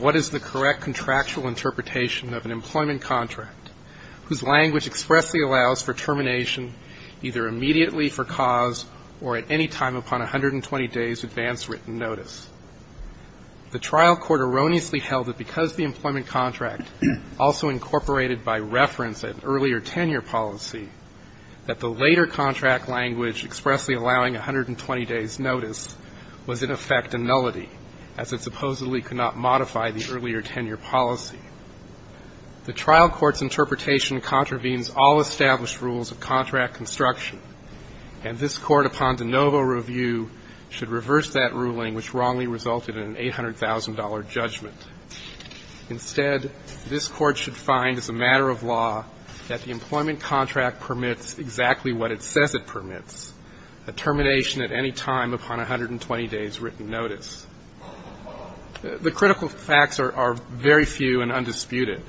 What is the correct contractual interpretation of an employment contract whose language expressly allows for termination either immediately for cause or at any time upon 120 days advance written notice. The trial court erroneously held that because the employment contract also incorporated by reference an earlier tenure policy, that the later contract language expressly allowing 120 days notice was in effect a nullity, as it supposedly could not have established rules of contract construction. And this Court, upon de novo review, should reverse that ruling, which wrongly resulted in an $800,000 judgment. Instead, this Court should find, as a matter of law, that the employment contract permits exactly what it says it permits, a termination at any time upon 120 days written notice. The critical facts are very few and undisputed.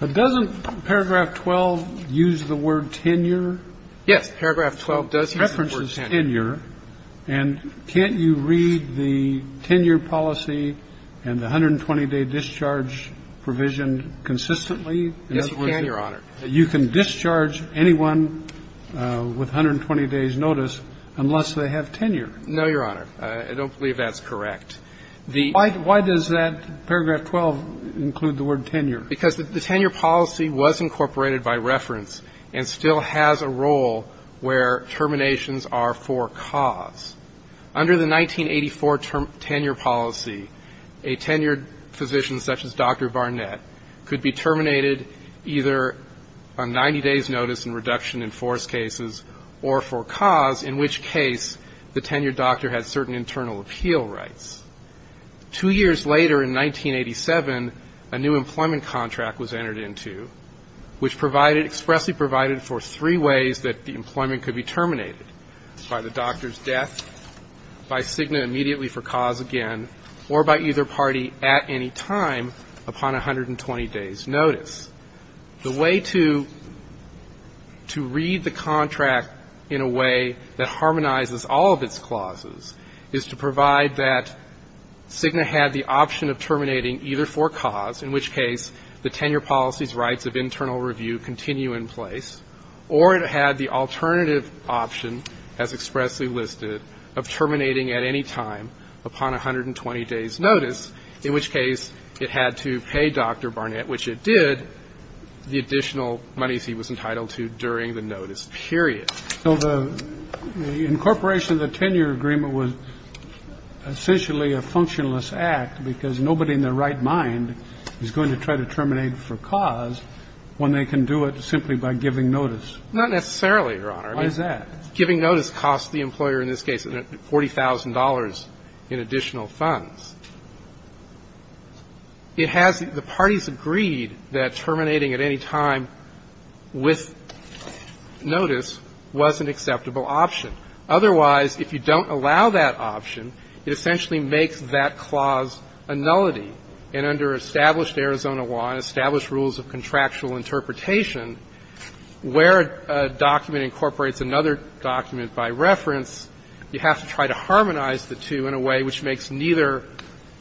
But doesn't paragraph 12 use the word tenure? Yes. Paragraph 12 does use the word tenure. It references tenure. And can't you read the tenure policy and the 120-day discharge provision consistently? Yes, you can, Your Honor. You can discharge anyone with 120 days notice unless they have tenure? No, Your Honor. I don't believe that's correct. Why does that paragraph 12 include the word tenure? Because the tenure policy was incorporated by reference and still has a role where terminations are for cause. Under the 1984 tenure policy, a tenured physician such as Dr. Barnett could be terminated either on 90 days notice and reduction in forced cases or for cause, in which case the tenured doctor had certain internal appeal rights. Two years later in 1987, a new employment contract was entered into, which provided expressly for three ways that the employment could be terminated, by the doctor's death, by Cigna immediately for cause again, or by either party at any time upon 120 days notice. The way to read the contract in a way that harmonizes all of its clauses is to provide that Cigna had the option of terminating either for cause, in which case the tenure policy's rights of internal review continue in place, or it had the alternative option, as expressly listed, of terminating at any time upon 120 days notice, in which case it had to pay Dr. Barnett, which it did, the additional monies he was entitled to during the notice period. So the incorporation of the tenure agreement was essentially a functionless act because nobody in their right mind is going to try to terminate for cause when they can do it simply by giving notice. Not necessarily, Your Honor. Why is that? Giving notice costs the employer in this case $40,000 in additional funds. It has the parties agreed that terminating at any time with notice would be a good and acceptable option. Otherwise, if you don't allow that option, it essentially makes that clause a nullity. And under established Arizona law and established rules of contractual interpretation, where a document incorporates another document by reference, you have to try to harmonize the two in a way which makes neither,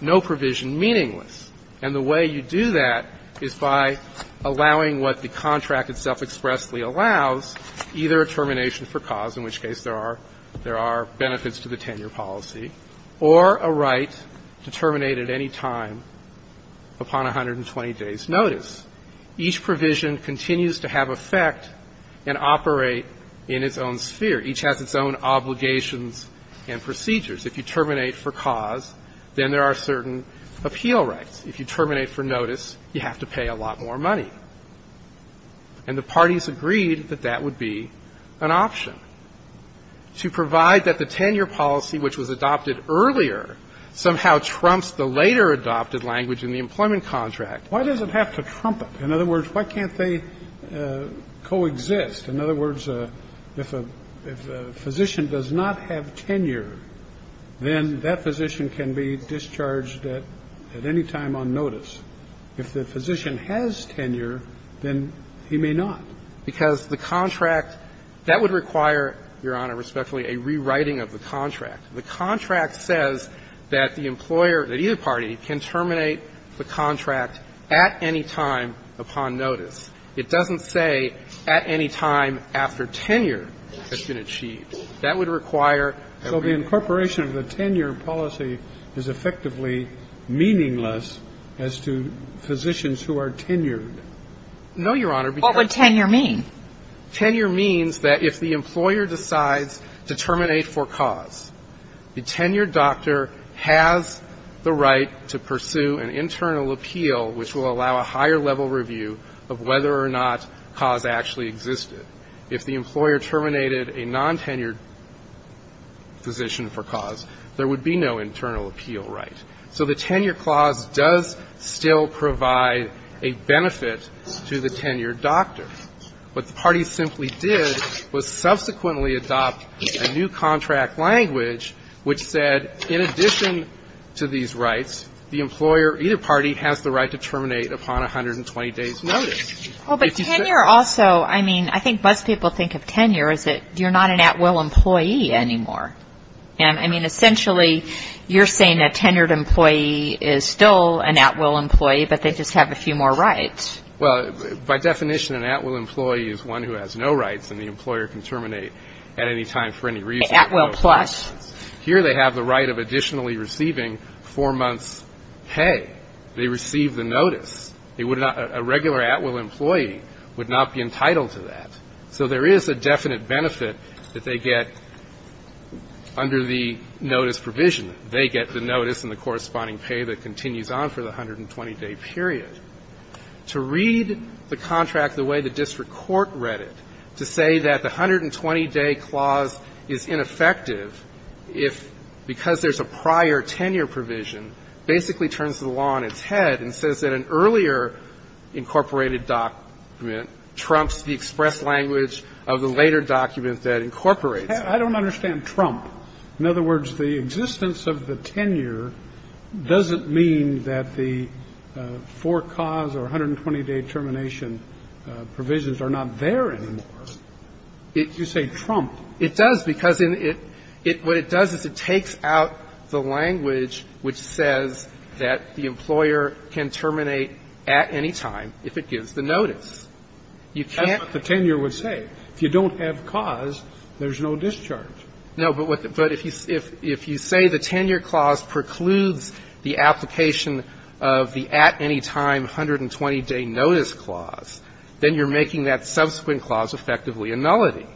no provision meaningless. And the way you do that is by allowing what the contract itself expressly allows, either a termination for cause, in which case there are benefits to the tenure policy, or a right to terminate at any time upon 120 days notice. Each provision continues to have effect and operate in its own sphere. Each has its own obligations and procedures. If you terminate for cause, then there are certain appeal rights. If you terminate for notice, you have to pay a lot more money. And the parties agreed that that would be an option. To provide that the tenure policy, which was adopted earlier, somehow trumps the later adopted language in the employment contract, why does it have to trump it? In other words, why can't they coexist? In other words, if a physician does not have tenure, then that physician can be discharged at any time on notice. If the physician has tenure, then he may not. Because the contract that would require, Your Honor, respectfully, a rewriting of the contract. The contract says that the employer, that either party, can terminate the contract at any time upon notice. It doesn't say at any time after tenure has been achieved. That would require that we need a rewriting of the contract. So the incorporation of the tenure policy is effectively meaningless as to physicians who are tenured? No, Your Honor, because the tenure means that if the employer decides to terminate for cause, the tenured doctor has the right to pursue an internal appeal which will allow a higher level review of whether or not cause actually existed. If the employer terminated a non-tenured physician for cause, there would be no internal appeal right. So the tenure clause does still provide a benefit to the tenured doctor. What the parties simply did was subsequently adopt a new contract language which said, in addition to these rights, the employer, either party, has the right to terminate upon 120 days' notice. But tenure also, I mean, I think most people think of tenure as that you're not an at-will employee anymore. I mean, essentially, you're saying a tenured employee is still an at-will employee but they just have a few more rights. Well, by definition, an at-will employee is one who has no rights and the employer can terminate at any time for any reason. At-will plus. Here they have the right of additionally receiving four months' pay. They receive the notice. They would not – a regular at-will employee would not be entitled to that. So there is a definite benefit that they get under the notice provision. They get the notice and the corresponding pay that continues on for the 120-day period. To read the contract the way the district court read it, to say that the 120-day termination clause is ineffective if – because there's a prior tenure provision basically turns the law on its head and says that an earlier incorporated document trumps the express language of the later document that incorporates it. I don't understand trump. In other words, the existence of the tenure doesn't mean that the four-cause or 120-day termination provisions are not there anymore. It's – it's – You say trump. It does because in it – it – what it does is it takes out the language which says that the employer can terminate at any time if it gives the notice. You can't – That's what the tenure would say. If you don't have cause, there's no discharge. No, but what – but if you say the tenure clause precludes the application of the at-anytime 120-day notice clause, then you're making that subsequent clause effectively a nullity.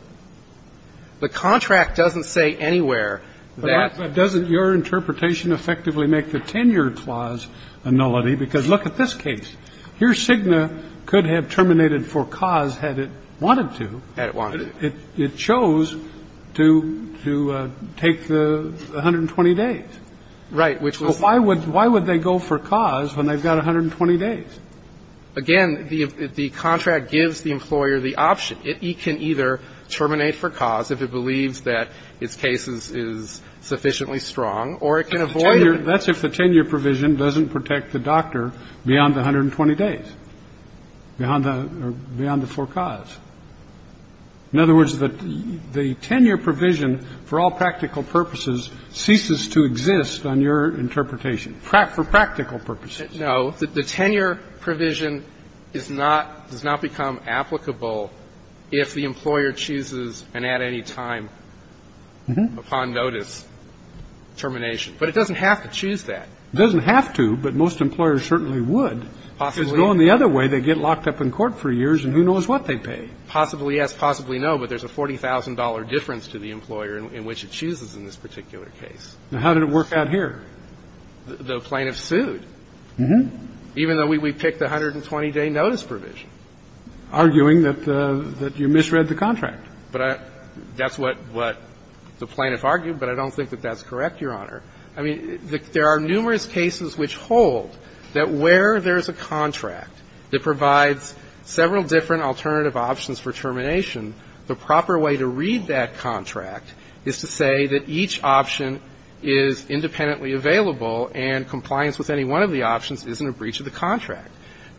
The contract doesn't say anywhere that – But doesn't your interpretation effectively make the tenure clause a nullity? Because look at this case. Here, Cigna could have terminated for cause had it wanted to. Had it wanted to. It – it chose to – to take the 120 days. Right, which was – Why would – why would they go for cause when they've got 120 days? Again, the – the contract gives the employer the option. It can either terminate for cause if it believes that its case is – is sufficiently strong, or it can avoid it. That's if the tenure provision doesn't protect the doctor beyond the 120 days, beyond the – beyond the forecause. In other words, the – the tenure provision for all practical purposes ceases to exist on your interpretation, for practical purposes. No. The tenure provision is not – does not become applicable if the employer chooses an at-anytime upon notice termination. But it doesn't have to choose that. It doesn't have to, but most employers certainly would. Possibly. Because going the other way, they get locked up in court for years, and who knows what they pay. Possibly yes, possibly no, but there's a $40,000 difference to the employer in which it chooses in this particular case. Now, how did it work out here? The plaintiff sued. Even though we picked the 120-day notice provision. Arguing that you misread the contract. But I – that's what the plaintiff argued, but I don't think that that's correct, Your Honor. I mean, there are numerous cases which hold that where there's a contract that provides several different alternative options for termination, the proper way to read that contract is to say that each option is independently available and complies with any of the options. And one of the options isn't a breach of the contract.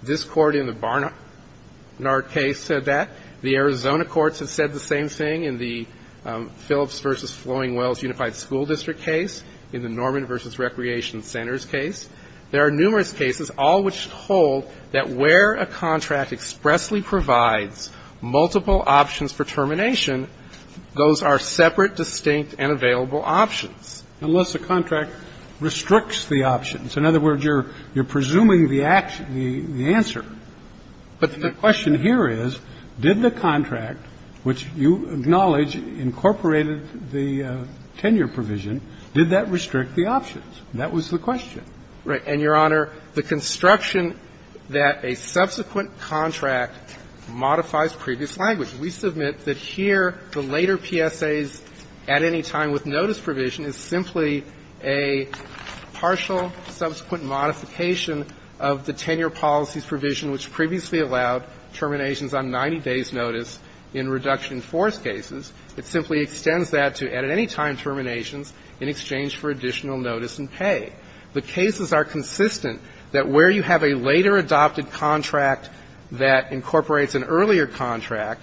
This Court in the Barnard case said that. The Arizona courts have said the same thing in the Phillips v. Flowing Wells Unified School District case, in the Norman v. Recreation Centers case. There are numerous cases, all which hold that where a contract expressly provides multiple options for termination, those are separate, distinct, and available options. Unless the contract restricts the options. In other words, you're presuming the answer. But the question here is, did the contract, which you acknowledge incorporated the tenure provision, did that restrict the options? That was the question. Right. And, Your Honor, the construction that a subsequent contract modifies previous language. We submit that here the later PSAs at any time with notice provision is simply a partial subsequent modification of the tenure policies provision, which previously allowed terminations on 90 days' notice in reduction force cases. It simply extends that to at any time terminations in exchange for additional notice and pay. The cases are consistent that where you have a later adopted contract that incorporates an earlier contract,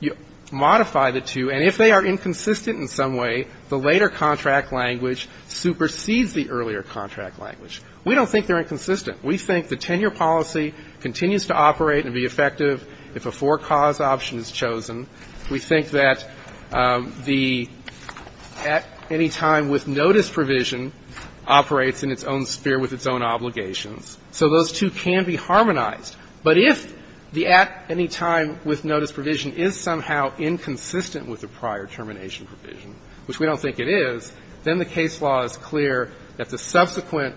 you modify the two. And if they are inconsistent in some way, the later contract language supersedes the earlier contract language. We don't think they're inconsistent. We think the tenure policy continues to operate and be effective if a four-cause option is chosen. We think that the at any time with notice provision operates in its own sphere with its own obligations. So those two can be harmonized. But if the at any time with notice provision is somehow inconsistent with the prior termination provision, which we don't think it is, then the case law is clear that the subsequent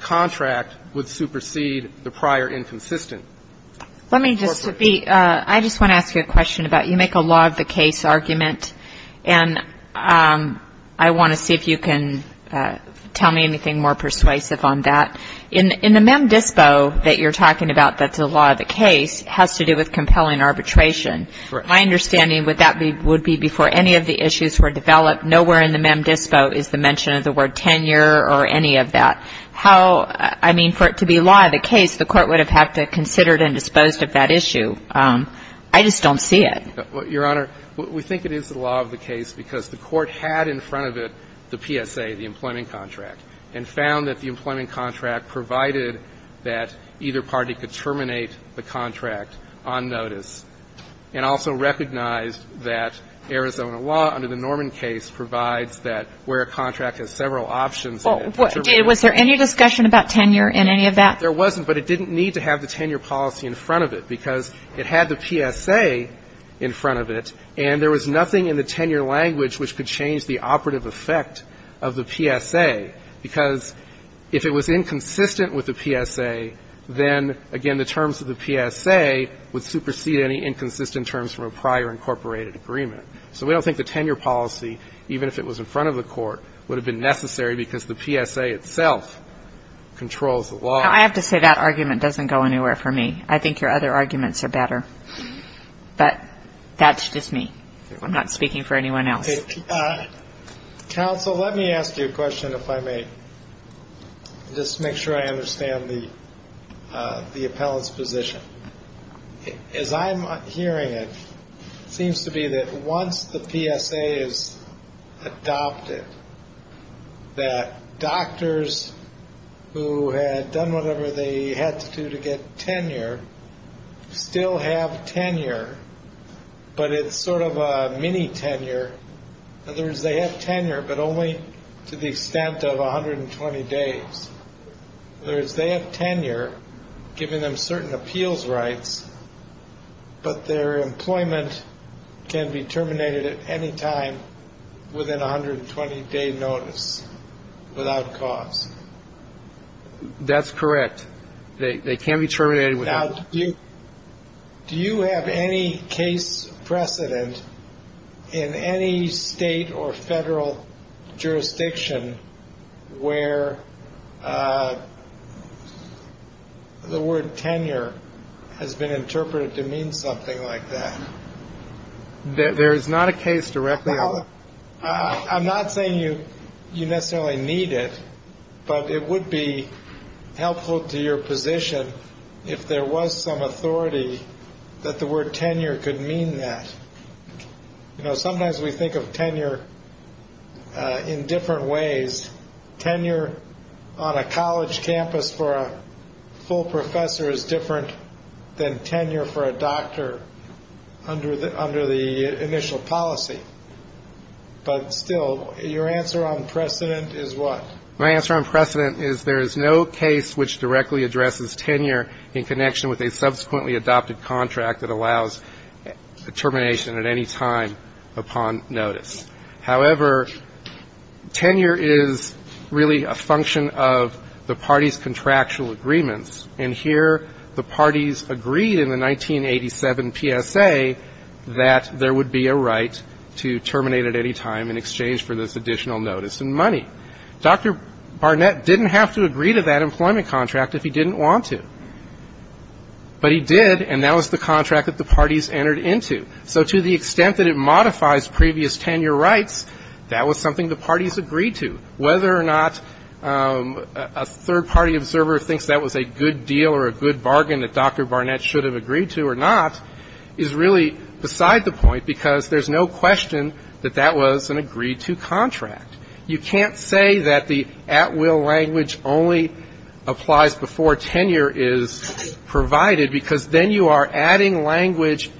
contract would supersede the prior inconsistent. Let me just be ‑‑ I just want to ask you a question about you make a law of the case argument, and I want to see if you can tell me anything more persuasive on that. In the mem dispo that you're talking about that's a law of the case has to do with compelling arbitration. My understanding would that be before any of the issues were developed, nowhere in the mem dispo is the mention of the word tenure or any of that. How ‑‑ I mean, for it to be a law of the case, the Court would have had to have considered and disposed of that issue. I just don't see it. Your Honor, we think it is a law of the case because the Court had in front of it the PSA, the employment contract, and found that the employment contract provided that either party could terminate the contract on notice, and also recognized that Arizona law under the Norman case provides that where a contract has several options in it to terminate it. Well, did ‑‑ was there any discussion about tenure in any of that? There wasn't, but it didn't need to have the tenure policy in front of it because it had the PSA in front of it, and there was nothing in the tenure language which could change the operative effect of the PSA, because if it was inconsistent with the PSA, then, again, the terms of the PSA would supersede any inconsistent terms from a prior incorporated agreement. So we don't think the tenure policy, even if it was in front of the Court, would have been necessary because the PSA itself controls the law. Now, I have to say that argument doesn't go anywhere for me. I think your other arguments are better, but that's just me. I'm not speaking for anyone else. Okay. Counsel, let me ask you a question, if I may, just to make sure I understand the appellant's position. As I'm hearing it, it seems to be that once the PSA is adopted, that doctors who had done whatever they had to do to get tenure still have tenure, but it's sort of a mini-tenure. In other words, they have tenure, but only to the extent of 120 days. In other words, they have tenure, giving them certain appeals rights, but their employment can be terminated at any time within a 120-day notice without cause. That's correct. They can be terminated without cause. Now, do you have any case precedent in any state or federal jurisdiction where the word tenure has been interpreted to mean something like that? There is not a case directly on that. I'm not saying you necessarily need it, but it would be helpful to your position if there was some authority that the word tenure could mean that. You know, sometimes we think of tenure in different ways. Tenure on a college campus for a full professor is different than tenure for a doctor under the initial policy. But still, your answer on precedent is what? My answer on precedent is there is no case which directly addresses tenure in connection with a subsequently adopted contract that allows termination at any time upon notice. However, tenure is really a function of the party's contractual agreements. And here the parties agreed in the 1987 PSA that there would be a right to terminate at any time in exchange for this additional notice and money. Dr. Barnett didn't have to agree to that employment contract if he didn't want to. But he did, and that was the contract that the parties entered into. So to the extent that it modifies previous tenure rights, that was something the parties agreed to. Whether or not a third-party observer thinks that was a good deal or a good bargain that Dr. Barnett should have agreed to or not is really beside the point because there's no question that that was an agreed-to contract. You can't say that the at-will language only applies before tenure is provided because then you are adding language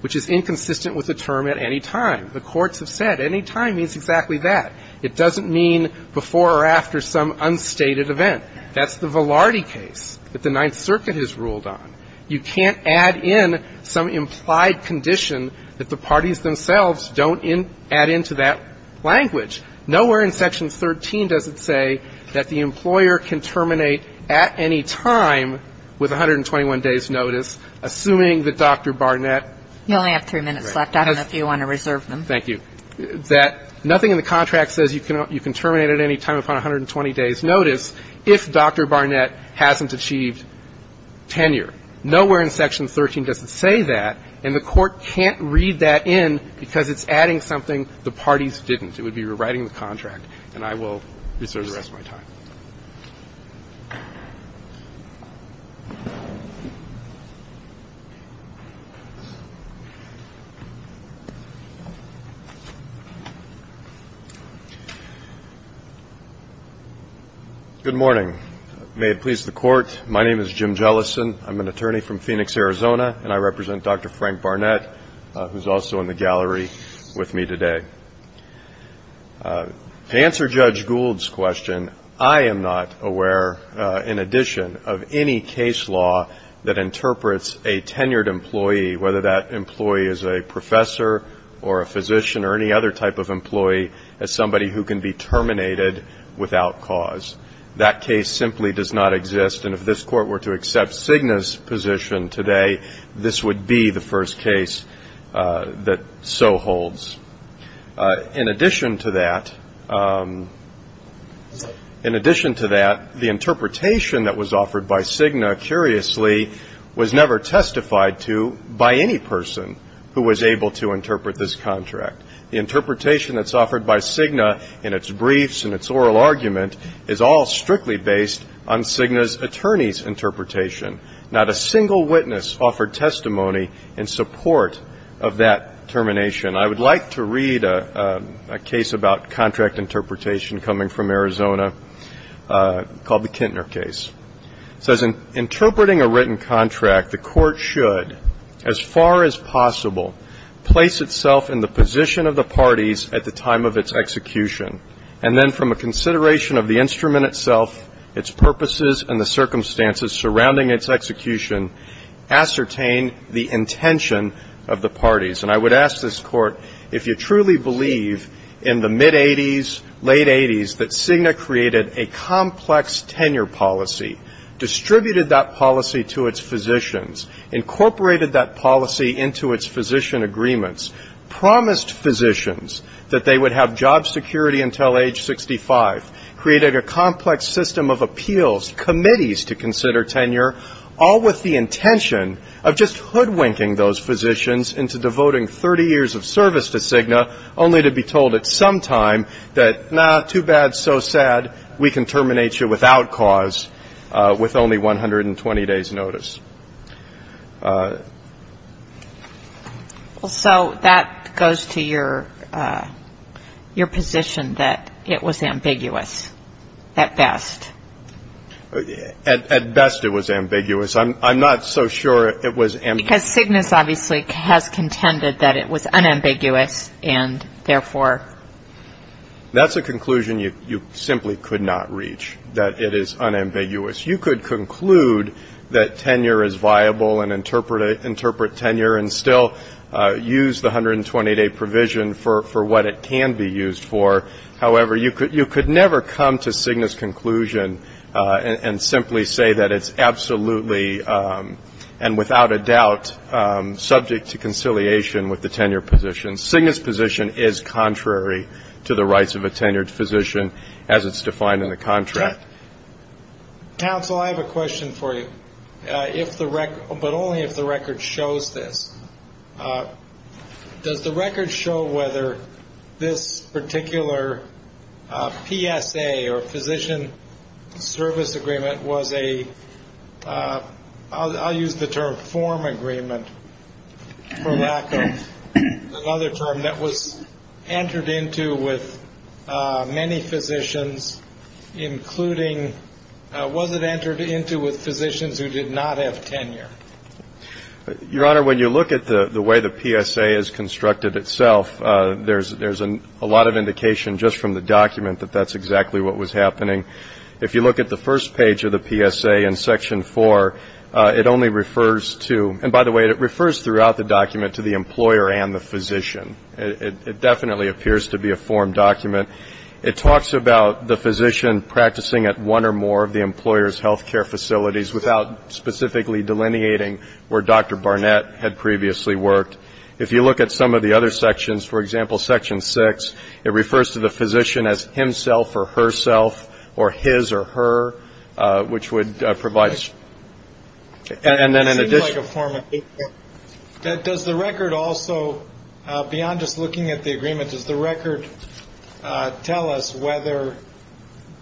which is inconsistent with the term at any time. The courts have said any time means exactly that. It doesn't mean before or after some unstated event. That's the Velardi case that the Ninth Circuit has ruled on. You can't add in some implied condition that the parties themselves don't add into that language. Nowhere in Section 13 does it say that the employer can terminate at any time with 121 days' notice, assuming that Dr. Barnett has ---- You only have three minutes left. I don't know if you want to reserve them. Thank you. That nothing in the contract says you can terminate at any time upon 120 days' notice if Dr. Barnett hasn't achieved tenure. Nowhere in Section 13 does it say that, and the Court can't read that in because it's adding something the parties didn't. It would be rewriting the contract, and I will reserve the rest of my time. Good morning. May it please the Court, my name is Jim Jellison. I'm an attorney from Phoenix, Arizona, and I represent Dr. Frank Barnett, who's also in the gallery with me today. To answer Judge Gould's question, I am not aware in addition of any case law that interprets a tenured employee, whether that employee is a professor or a physician or any other type of employee, as somebody who can be terminated without cause. That case simply does not exist, and if this Court were to accept Cigna's position today, this would be the first case that so holds. In addition to that, in addition to that, the interpretation that was offered by Cigna, curiously, was never testified to by any person who was able to interpret this contract. The interpretation that's offered by Cigna in its briefs and its oral argument is all strictly based on Cigna's attorney's interpretation. Not a single witness offered testimony in support of that termination. I would like to read a case about contract interpretation coming from Arizona called the Kintner case. It says, And I would ask this Court if you truly believe in the mid-'80s, late-'80s, that Cigna created a complex tenure policy, distributed that policy to its physicians, incorporated that policy into its physician agreements, promised physicians that they would have job security until age 65, created a complex system of appeals, committees to consider tenure, all with the intention of just hoodwinking those physicians into devoting 30 years of service to Cigna, only to be told at some time that, nah, too bad, so sad, we can terminate you without cause with only 120 days' notice. Well, so that goes to your position that it was ambiguous at best. At best it was ambiguous. I'm not so sure it was ambiguous. Because Cigna obviously has contended that it was unambiguous, and therefore. That's a conclusion you simply could not reach, that it is unambiguous. You could conclude that tenure is viable and interpret tenure and still use the 120-day provision for what it can be used for. However, you could never come to Cigna's conclusion and simply say that it's absolutely and without a doubt subject to conciliation with the tenure position. Cigna's position is contrary to the rights of a tenured physician as it's defined in the contract. Counsel, I have a question for you, but only if the record shows this. Does the record show whether this particular PSA or Physician Service Agreement was a, I'll use the term form agreement for lack of another term, that was entered into with many physicians, including, was it entered into with physicians who did not have tenure? Your Honor, when you look at the way the PSA is constructed itself, there's a lot of indication just from the document that that's exactly what was happening. If you look at the first page of the PSA in Section 4, it only refers to, and by the way, it refers throughout the document to the employer and the physician. It definitely appears to be a form document. It talks about the physician practicing at one or more of the employer's health care facilities without specifically delineating where Dr. Barnett had previously worked. If you look at some of the other sections, for example, Section 6, it refers to the physician as himself or herself or his or her, which would provide us. And then in addition. It seems like a form of paperwork. Does the record also, beyond just looking at the agreement, does the record tell us whether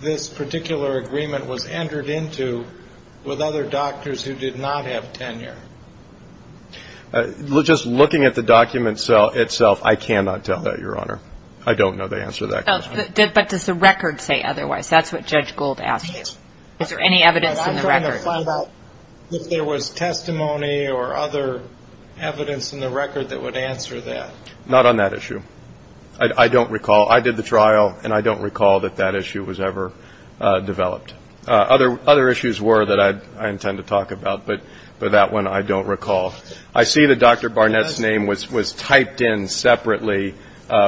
this particular agreement was entered into with other doctors who did not have tenure? Just looking at the document itself, I cannot tell that, Your Honor. I don't know the answer to that question. But does the record say otherwise? That's what Judge Gould asked you. Is there any evidence in the record? I'm trying to find out if there was testimony or other evidence in the record that would answer that. Not on that issue. I don't recall. I did the trial, and I don't recall that that issue was ever developed. Other issues were that I intend to talk about, but that one I don't recall. I see that Dr. Barnett's name was typed in separately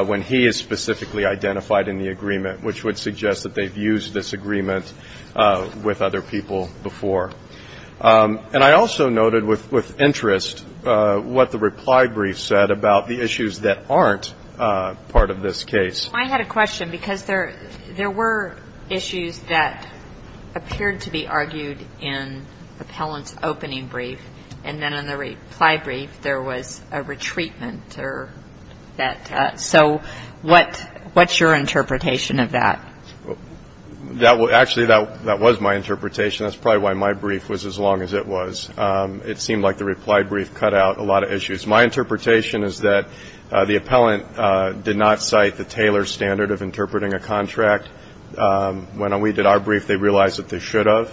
when he is specifically identified in the agreement, which would suggest that they've used this agreement with other people before. And I also noted with interest what the reply brief said about the issues that aren't part of this case. I had a question, because there were issues that appeared to be argued in the appellant's opening brief, and then in the reply brief there was a retreatment. So what's your interpretation of that? Actually, that was my interpretation. That's probably why my brief was as long as it was. It seemed like the reply brief cut out a lot of issues. My interpretation is that the appellant did not cite the Taylor standard of interpreting a contract. When we did our brief, they realized that they should have.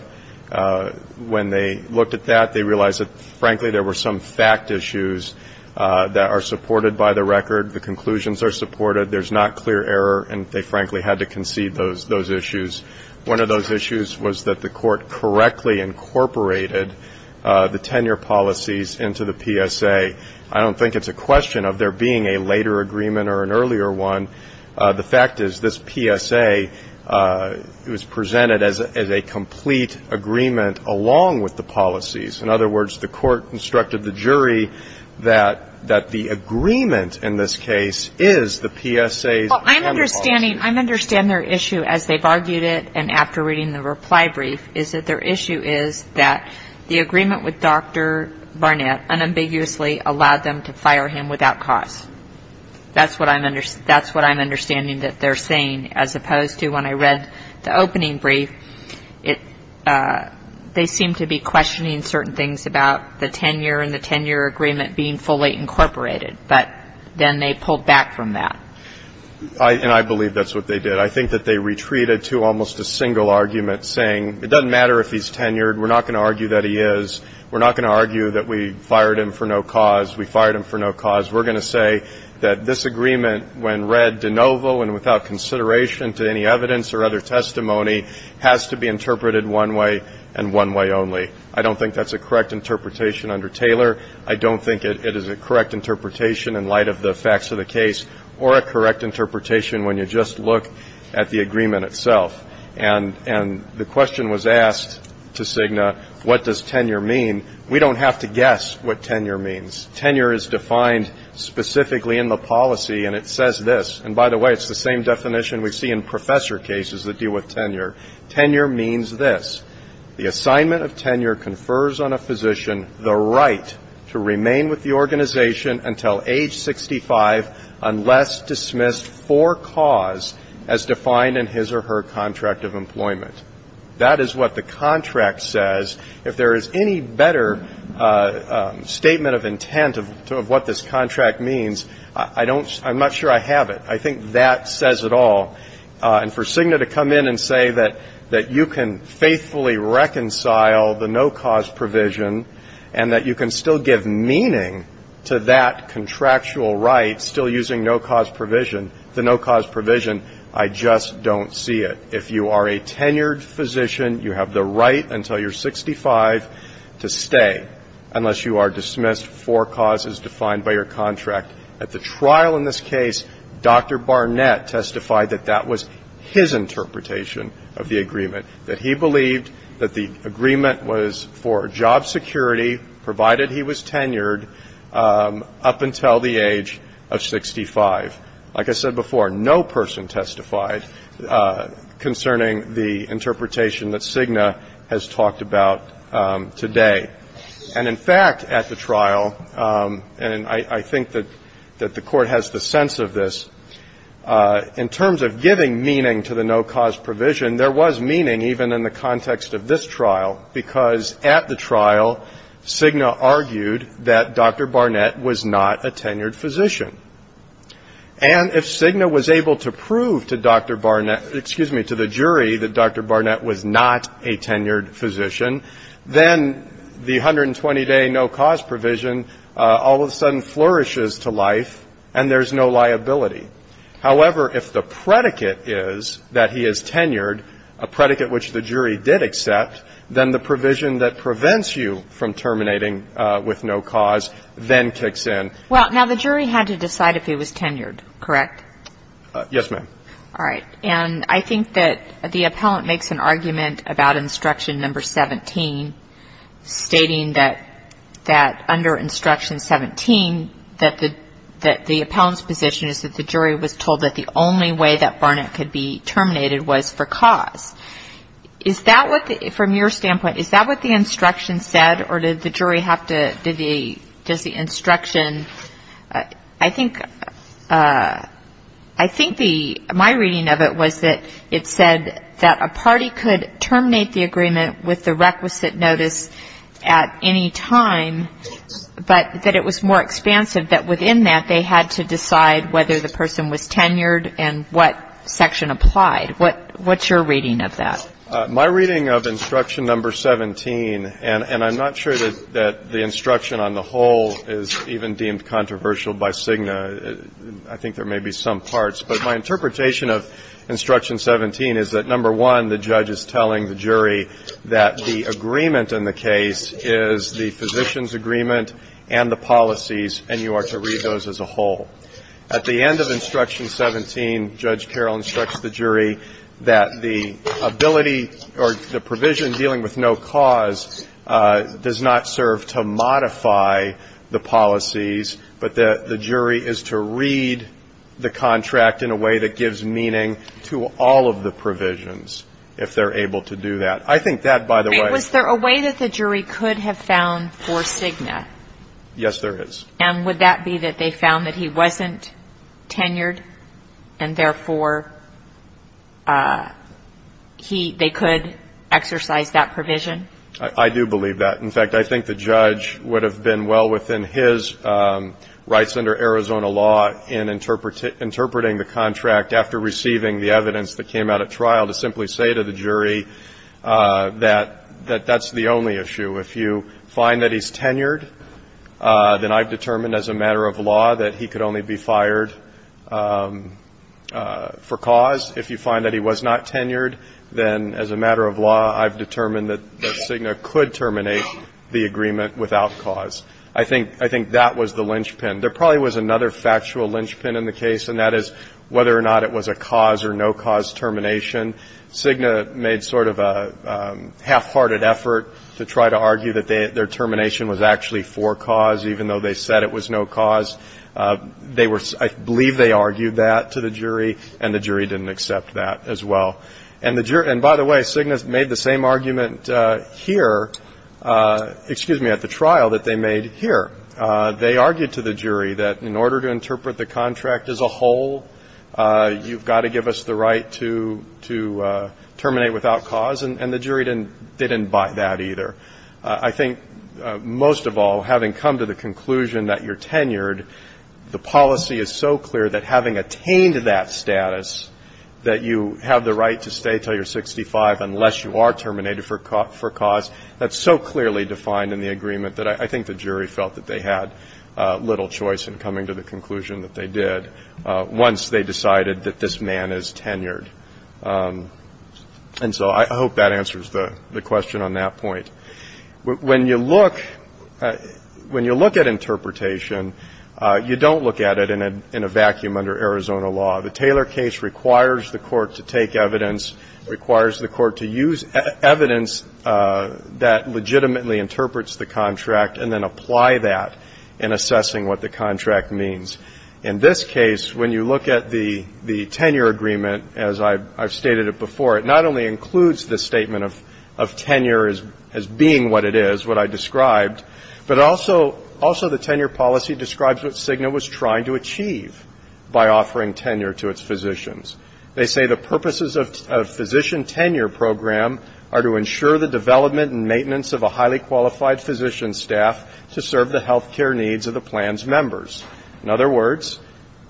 When they looked at that, they realized that, frankly, there were some fact issues that are supported by the record, the conclusions are supported, there's not clear error, and they frankly had to concede those issues. One of those issues was that the court correctly incorporated the tenure policies into the PSA. I don't think it's a question of there being a later agreement or an earlier one. The fact is this PSA was presented as a complete agreement along with the policies. In other words, the court instructed the jury that the agreement in this case is the PSA's tenure policy. Well, I'm understanding their issue, as they've argued it and after reading the reply brief, is that their issue is that the agreement with Dr. Barnett unambiguously allowed them to fire him without cause. That's what I'm understanding that they're saying, as opposed to when I read the opening brief, they seem to be questioning certain things about the tenure and the tenure agreement being fully incorporated, but then they pulled back from that. And I believe that's what they did. I think that they retreated to almost a single argument, saying, it doesn't matter if he's tenured, we're not going to argue that he is, we're not going to argue that we fired him for no cause, we fired him for no cause, we're going to say that this agreement, when read de novo and without consideration to any evidence or other testimony, has to be interpreted one way and one way only. I don't think that's a correct interpretation under Taylor. I don't think it is a correct interpretation in light of the facts of the case or a correct interpretation when you just look at the agreement itself. And the question was asked to Cigna, what does tenure mean? We don't have to guess what tenure means. Tenure is defined specifically in the policy, and it says this. And by the way, it's the same definition we see in professor cases that deal with tenure. Tenure means this. The assignment of tenure confers on a physician the right to remain with the organization until age 65 unless dismissed for cause as defined in his or her contract of employment. That is what the contract says. If there is any better statement of intent of what this contract means, I'm not sure I have it. I think that says it all. And for Cigna to come in and say that you can faithfully reconcile the no-cause provision and that you can still give meaning to that contractual right, still using no-cause provision, the no-cause provision, I just don't see it. If you are a tenured physician, you have the right until you're 65 to stay unless you are dismissed for causes defined by your contract. At the trial in this case, Dr. Barnett testified that that was his interpretation of the agreement, that he believed that the agreement was for job security provided he was tenured up until the age of 65. Like I said before, no person testified concerning the interpretation that Cigna has talked about today. And in fact, at the trial, and I think that the Court has the sense of this, in terms of giving meaning to the no-cause provision, there was meaning even in the context of this trial, because at the trial, Cigna argued that Dr. Barnett was not a tenured physician. And if Cigna was able to prove to Dr. Barnett, excuse me, to the jury that Dr. Barnett was not a tenured physician, then the 120-day no-cause provision all of a sudden flourishes to life and there's no liability. However, if the predicate is that he is tenured, a predicate which the jury did accept, then the provision that prevents you from terminating with no cause then kicks in. Well, now, the jury had to decide if he was tenured, correct? Yes, ma'am. All right. And I think that the appellant makes an argument about Instruction No. 17, stating that under Instruction 17, that the appellant's position is that the jury was told that the only way that Barnett could be terminated was for cause. From your standpoint, is that what the instruction said, or did the jury have to the instruction? I think the my reading of it was that it said that a party could terminate the agreement with the requisite notice at any time, but that it was more expansive that within that, they had to decide whether the person was tenured and what section applied. What's your reading of that? My reading of Instruction No. 17, and I'm not sure that the instruction on the whole is even deemed controversial by Cigna. I think there may be some parts. But my interpretation of Instruction 17 is that, number one, the judge is telling the jury that the agreement in the case is the physician's agreement and the policies, and you are to read those as a whole. At the end of Instruction 17, Judge Carroll instructs the jury that the ability or the provision dealing with no cause does not serve to modify the policies, but that the jury is to read the contract in a way that gives meaning to all of the provisions, if they're able to do that. I think that, by the way ---- Wait. Was there a way that the jury could have found for Cigna? Yes, there is. And would that be that they found that he wasn't tenured and, therefore, he ---- they could exercise that provision? I do believe that. In fact, I think the judge would have been well within his rights under Arizona law in interpreting the contract after receiving the evidence that came out at trial to simply say to the jury that that's the only issue. If you find that he's tenured, then I've determined as a matter of law that he could only be fired for cause. If you find that he was not tenured, then as a matter of law, I've determined that Cigna could terminate the agreement without cause. I think that was the linchpin. There probably was another factual linchpin in the case, and that is whether or not it was a cause or no cause termination. Cigna made sort of a half-hearted effort to try to argue that their termination was actually for cause, even though they said it was no cause. They were ---- I believe they argued that to the jury, and the jury didn't accept that as well. And the jury ---- and by the way, Cigna made the same argument here, excuse me, at the trial that they made here. They argued to the jury that in order to interpret the contract as a whole, you've got to give us the right to terminate without cause, and the jury didn't buy that either. I think most of all, having come to the conclusion that you're tenured, the policy is so clear that having attained that status, that you have the right to stay until you're 65 unless you are terminated for cause, that's so clearly defined in the agreement that I think the jury felt that they had little choice in coming to the conclusion that they did once they decided that this man is tenured. And so I hope that answers the question on that point. When you look at interpretation, you don't look at it in a vacuum under Arizona law. The Taylor case requires the court to take evidence, requires the court to use evidence that legitimately interprets the contract, and then apply that in assessing what the contract means. In this case, when you look at the tenure agreement, as I've stated it before, it not only includes the statement of tenure as being what it is, what I described, but also the tenure policy describes what Cigna was trying to achieve by offering tenure to its physicians. They say the purposes of physician tenure program are to ensure the development and In other words,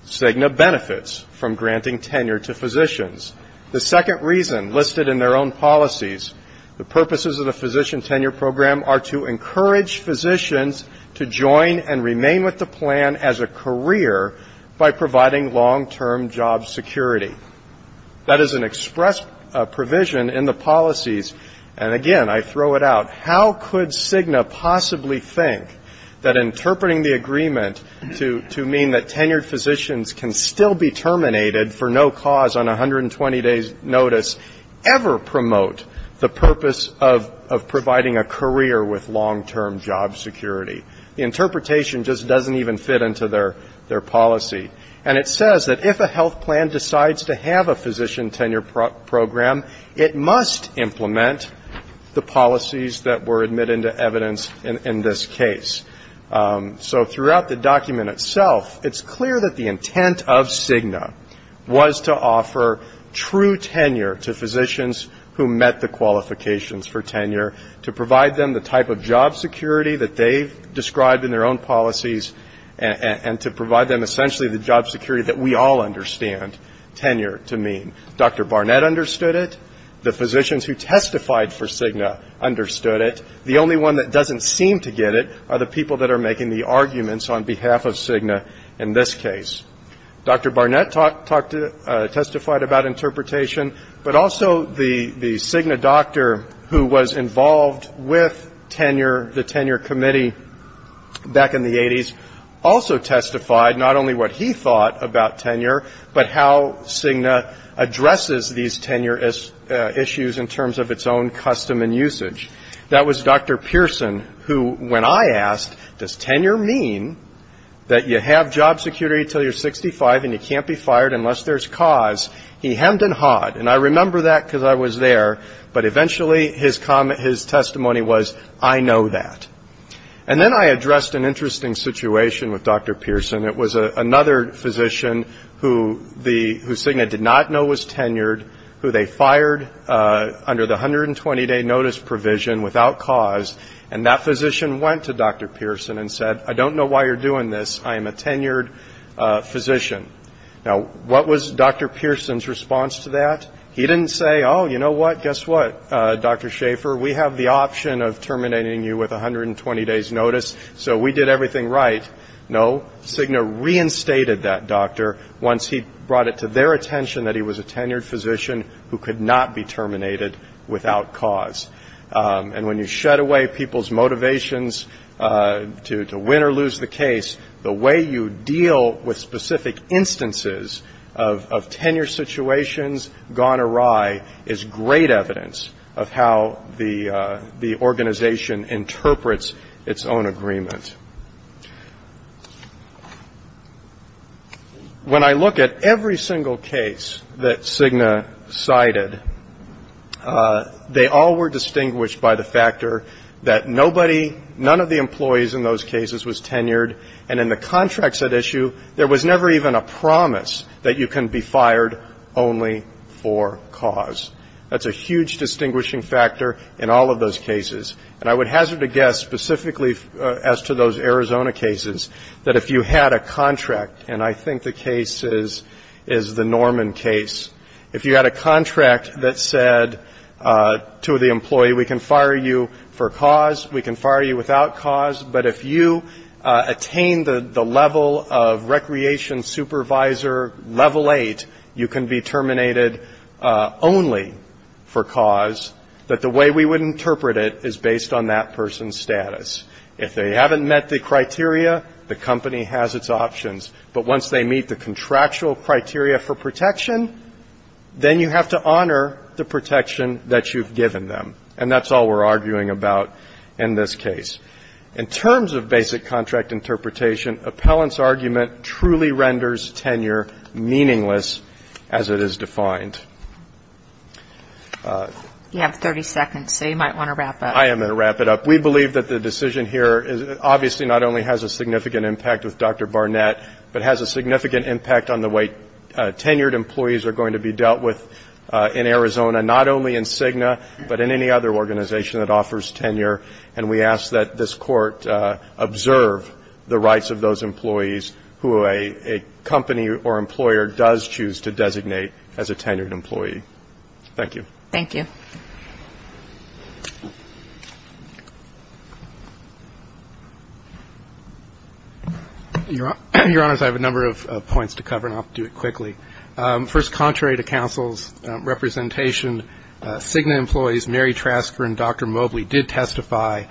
Cigna benefits from granting tenure to physicians. The second reason listed in their own policies, the purposes of the physician tenure program are to encourage physicians to join and remain with the plan as a career by providing long-term job security. That is an express provision in the policies. And again, I throw it out. How could Cigna possibly think that interpreting the agreement to mean that tenured physicians can still be terminated for no cause on 120 days' notice ever promote the purpose of providing a career with long-term job security? The interpretation just doesn't even fit into their policy. And it says that if a health plan decides to have a physician tenure program, it must implement the policies that were admitted into evidence in this case. So throughout the document itself, it's clear that the intent of Cigna was to offer true tenure to physicians who met the qualifications for tenure, to provide them the type of job security that they've described in their own policies, and to provide them essentially the job security that we all understand tenure to mean. Dr. Barnett understood it. The physicians who testified for Cigna understood it. The only one that doesn't seem to get it are the people that are making the arguments on behalf of Cigna in this case. Dr. Barnett testified about interpretation, but also the Cigna doctor who was involved with tenure, the tenure committee back in the 80s, also testified not only what he thought about tenure, but how Cigna addresses these tenure issues in terms of its own custom and usage. That was Dr. Pearson, who, when I asked, does tenure mean that you have job security until you're 65 and you can't be fired unless there's cause, he hemmed and hawed. And I remember that because I was there, but eventually his testimony was, I know that. And then I addressed an interesting situation with Dr. Pearson. It was another physician who Cigna did not know was tenured, who they fired under the 120-day notice provision without cause. And that physician went to Dr. Pearson and said, I don't know why you're doing this, I am a tenured physician. Now, what was Dr. Pearson's response to that? He didn't say, oh, you know what, guess what, Dr. Schaefer, we have the option of terminating you with 120 days' notice, so we did everything right. No, Cigna reinstated that doctor once he brought it to their attention that he was a tenured physician who could not be terminated without cause. And when you shed away people's motivations to win or lose the case, the way you deal with specific instances of tenure situations, gone awry, is great evidence of how the organization interprets its own agreement. When I look at every single case that Cigna cited, they all were distinguished by the factor that nobody, none of the employees in those cases was tenured, and in the contracts at issue, there was never even a promise that you can be fired only for cause. That's a huge distinguishing factor in all of those cases. That if you had a contract, and I think the case is the Norman case, if you had a contract that said to the employee, we can fire you for cause, we can fire you without cause, but if you attain the level of recreation supervisor level 8, you can be terminated only for cause, that the way we would interpret it is based on that person's status. If they haven't met the criteria, the company has its options, but once they meet the contractual criteria for protection, then you have to honor the protection that you've given them, and that's all we're arguing about in this case. In terms of basic contract interpretation, appellant's argument truly renders tenure meaningless as it is defined. And I think that's a very important point. We believe that the decision here obviously not only has a significant impact with Dr. Barnett, but has a significant impact on the way tenured employees are going to be dealt with in Arizona, not only in Cigna, but in any other organization that offers tenure, and we ask that this Court observe the rights of those employees who a company or a tenured employee. Thank you. Your Honor, I have a number of points to cover and I'll do it quickly. First, contrary to counsel's representation, Cigna employees Mary Trasker and Dr. Mobley did testify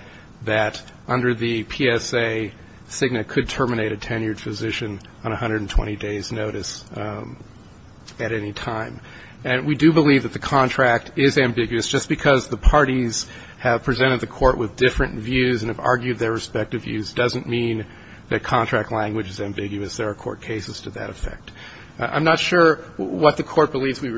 that under the PSA, Cigna could terminate a tenured physician on 120 days' notice at any time. And we do believe that the contract is ambiguous. Just because the parties have presented the Court with different views and have argued their respective views doesn't mean that contract language is ambiguous. There are court cases to that effect. I'm not sure what the Court believes we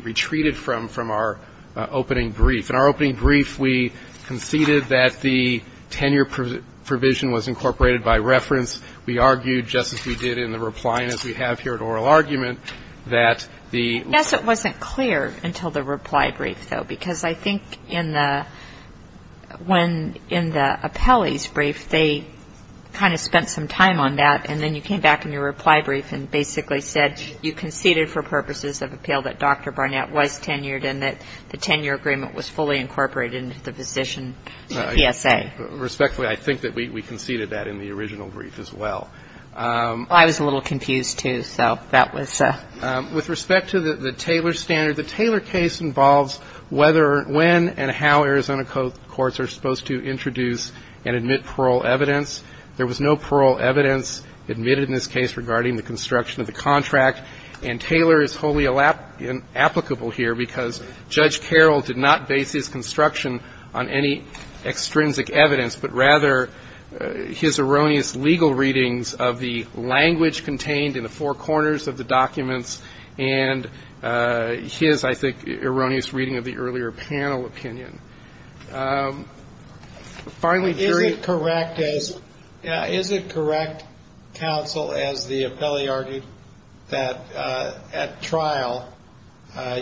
retreated from from our opening brief. In our opening brief, we conceded that the tenure provision was incorporated by reference. We argued, just as we did in the reply, and as we argued in the opening brief, we have here an oral argument that the -- Yes, it wasn't clear until the reply brief, though, because I think in the appellee's brief, they kind of spent some time on that, and then you came back in your reply brief and basically said you conceded for purposes of appeal that Dr. Barnett was tenured and that the tenure agreement was fully incorporated into the physician PSA. Respectfully, I think that we conceded that in the original brief as well. I was a little confused, too, so that was -- With respect to the Taylor standard, the Taylor case involves whether, when, and how Arizona courts are supposed to introduce and admit parole evidence. There was no parole evidence admitted in this case regarding the construction of the contract, and Taylor is wholly applicable here because Judge Carroll did not base his construction on any extrinsic evidence, but rather his erroneous legal readings of the language contained in the four corners of the documents and his, I think, erroneous reading of the earlier panel opinion. Is it correct, counsel, as the appellee argued, that at trial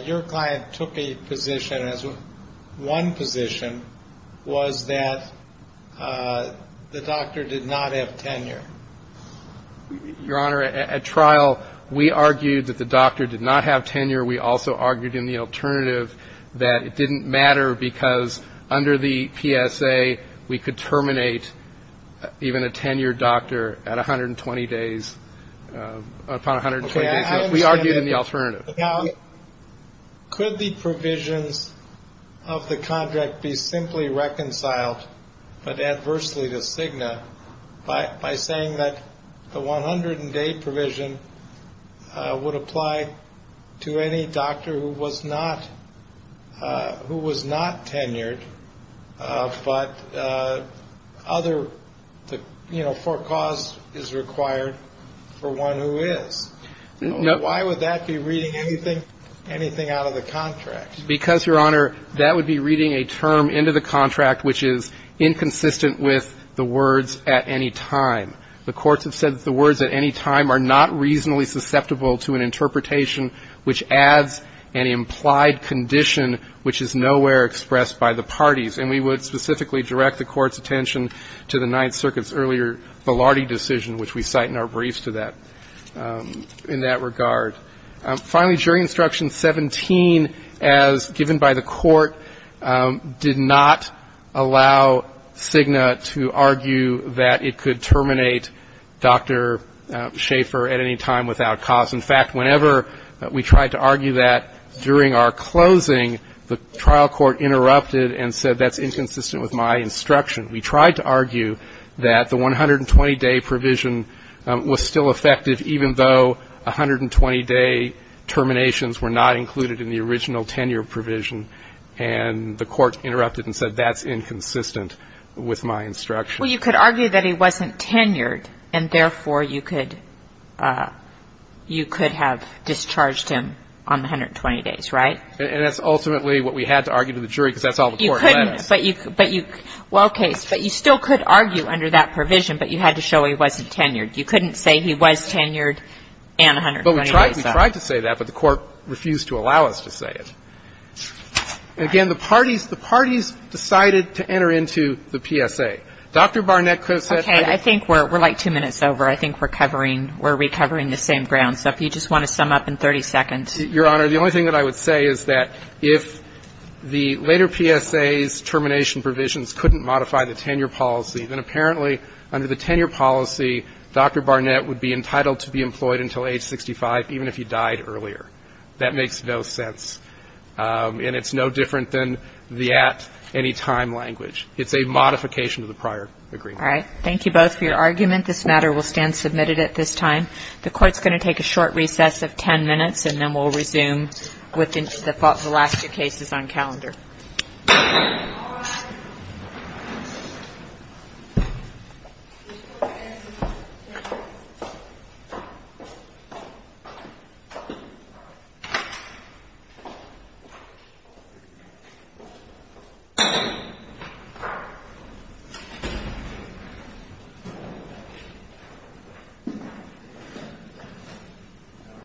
your client took a position, as one position, was that the doctor did not have tenure? Your Honor, at trial we argued that the doctor did not have tenure. We also argued in the alternative that it didn't matter because under the PSA we could terminate even a tenured doctor at 120 days, upon 120 days. We argued in the alternative. Now, could the provisions of the contract be simply reconciled, but adversely to Cigna, by saying that the 100-day provision would apply to any doctor who was not tenured, but other, you know, for cause is required for one who is? Why would that be reading anything out of the contract? Because, Your Honor, that would be reading a term into the contract which is inconsistent with the words at any time. The courts have said that the words at any time are not reasonably susceptible to an interpretation which adds an implied condition which is nowhere expressed by the parties, and we would specifically direct the court's attention to the Ninth Circuit's earlier Velardi decision, which we cite in our briefs to that, in that regard. Finally, during Instruction 17, as given by the court, did not allow Cigna to argue that it could terminate Dr. Schaefer at any time without cause. In fact, whenever we tried to argue that during our closing, the trial court interrupted and said that's inconsistent with my instruction, we tried to argue that the 120-day provision was still effective, even though 120-day terminations were not included in the original tenure provision, and the court interrupted and said that's inconsistent with my instruction. Well, you could argue that he wasn't tenured, and therefore you could have discharged him on the 120 days, right? And that's ultimately what we had to argue to the jury, because that's all the court let us. Well, okay, but you still could argue under that provision, but you had to show he wasn't tenured. You couldn't say he was tenured and 120 days out. But we tried to say that, but the court refused to allow us to say it. And again, the parties decided to enter into the PSA. Dr. Barnett could have said that. Okay. I think we're like two minutes over. I think we're covering the same ground, so if you just want to sum up in 30 seconds. Your Honor, the only thing that I would say is that if the later PSA's termination provisions couldn't modify the tenure policy, then apparently under the tenure policy, Dr. Barnett would be entitled to be employed until age 65, even if he died earlier. That makes no sense. And it's no different than the at-anytime language. It's a modification of the prior agreement. All right. Thank you both for your argument. This matter will stand submitted at this time. The Court's going to take a short recess of ten minutes, and then we'll resume with the last two cases on calendar. Thank you.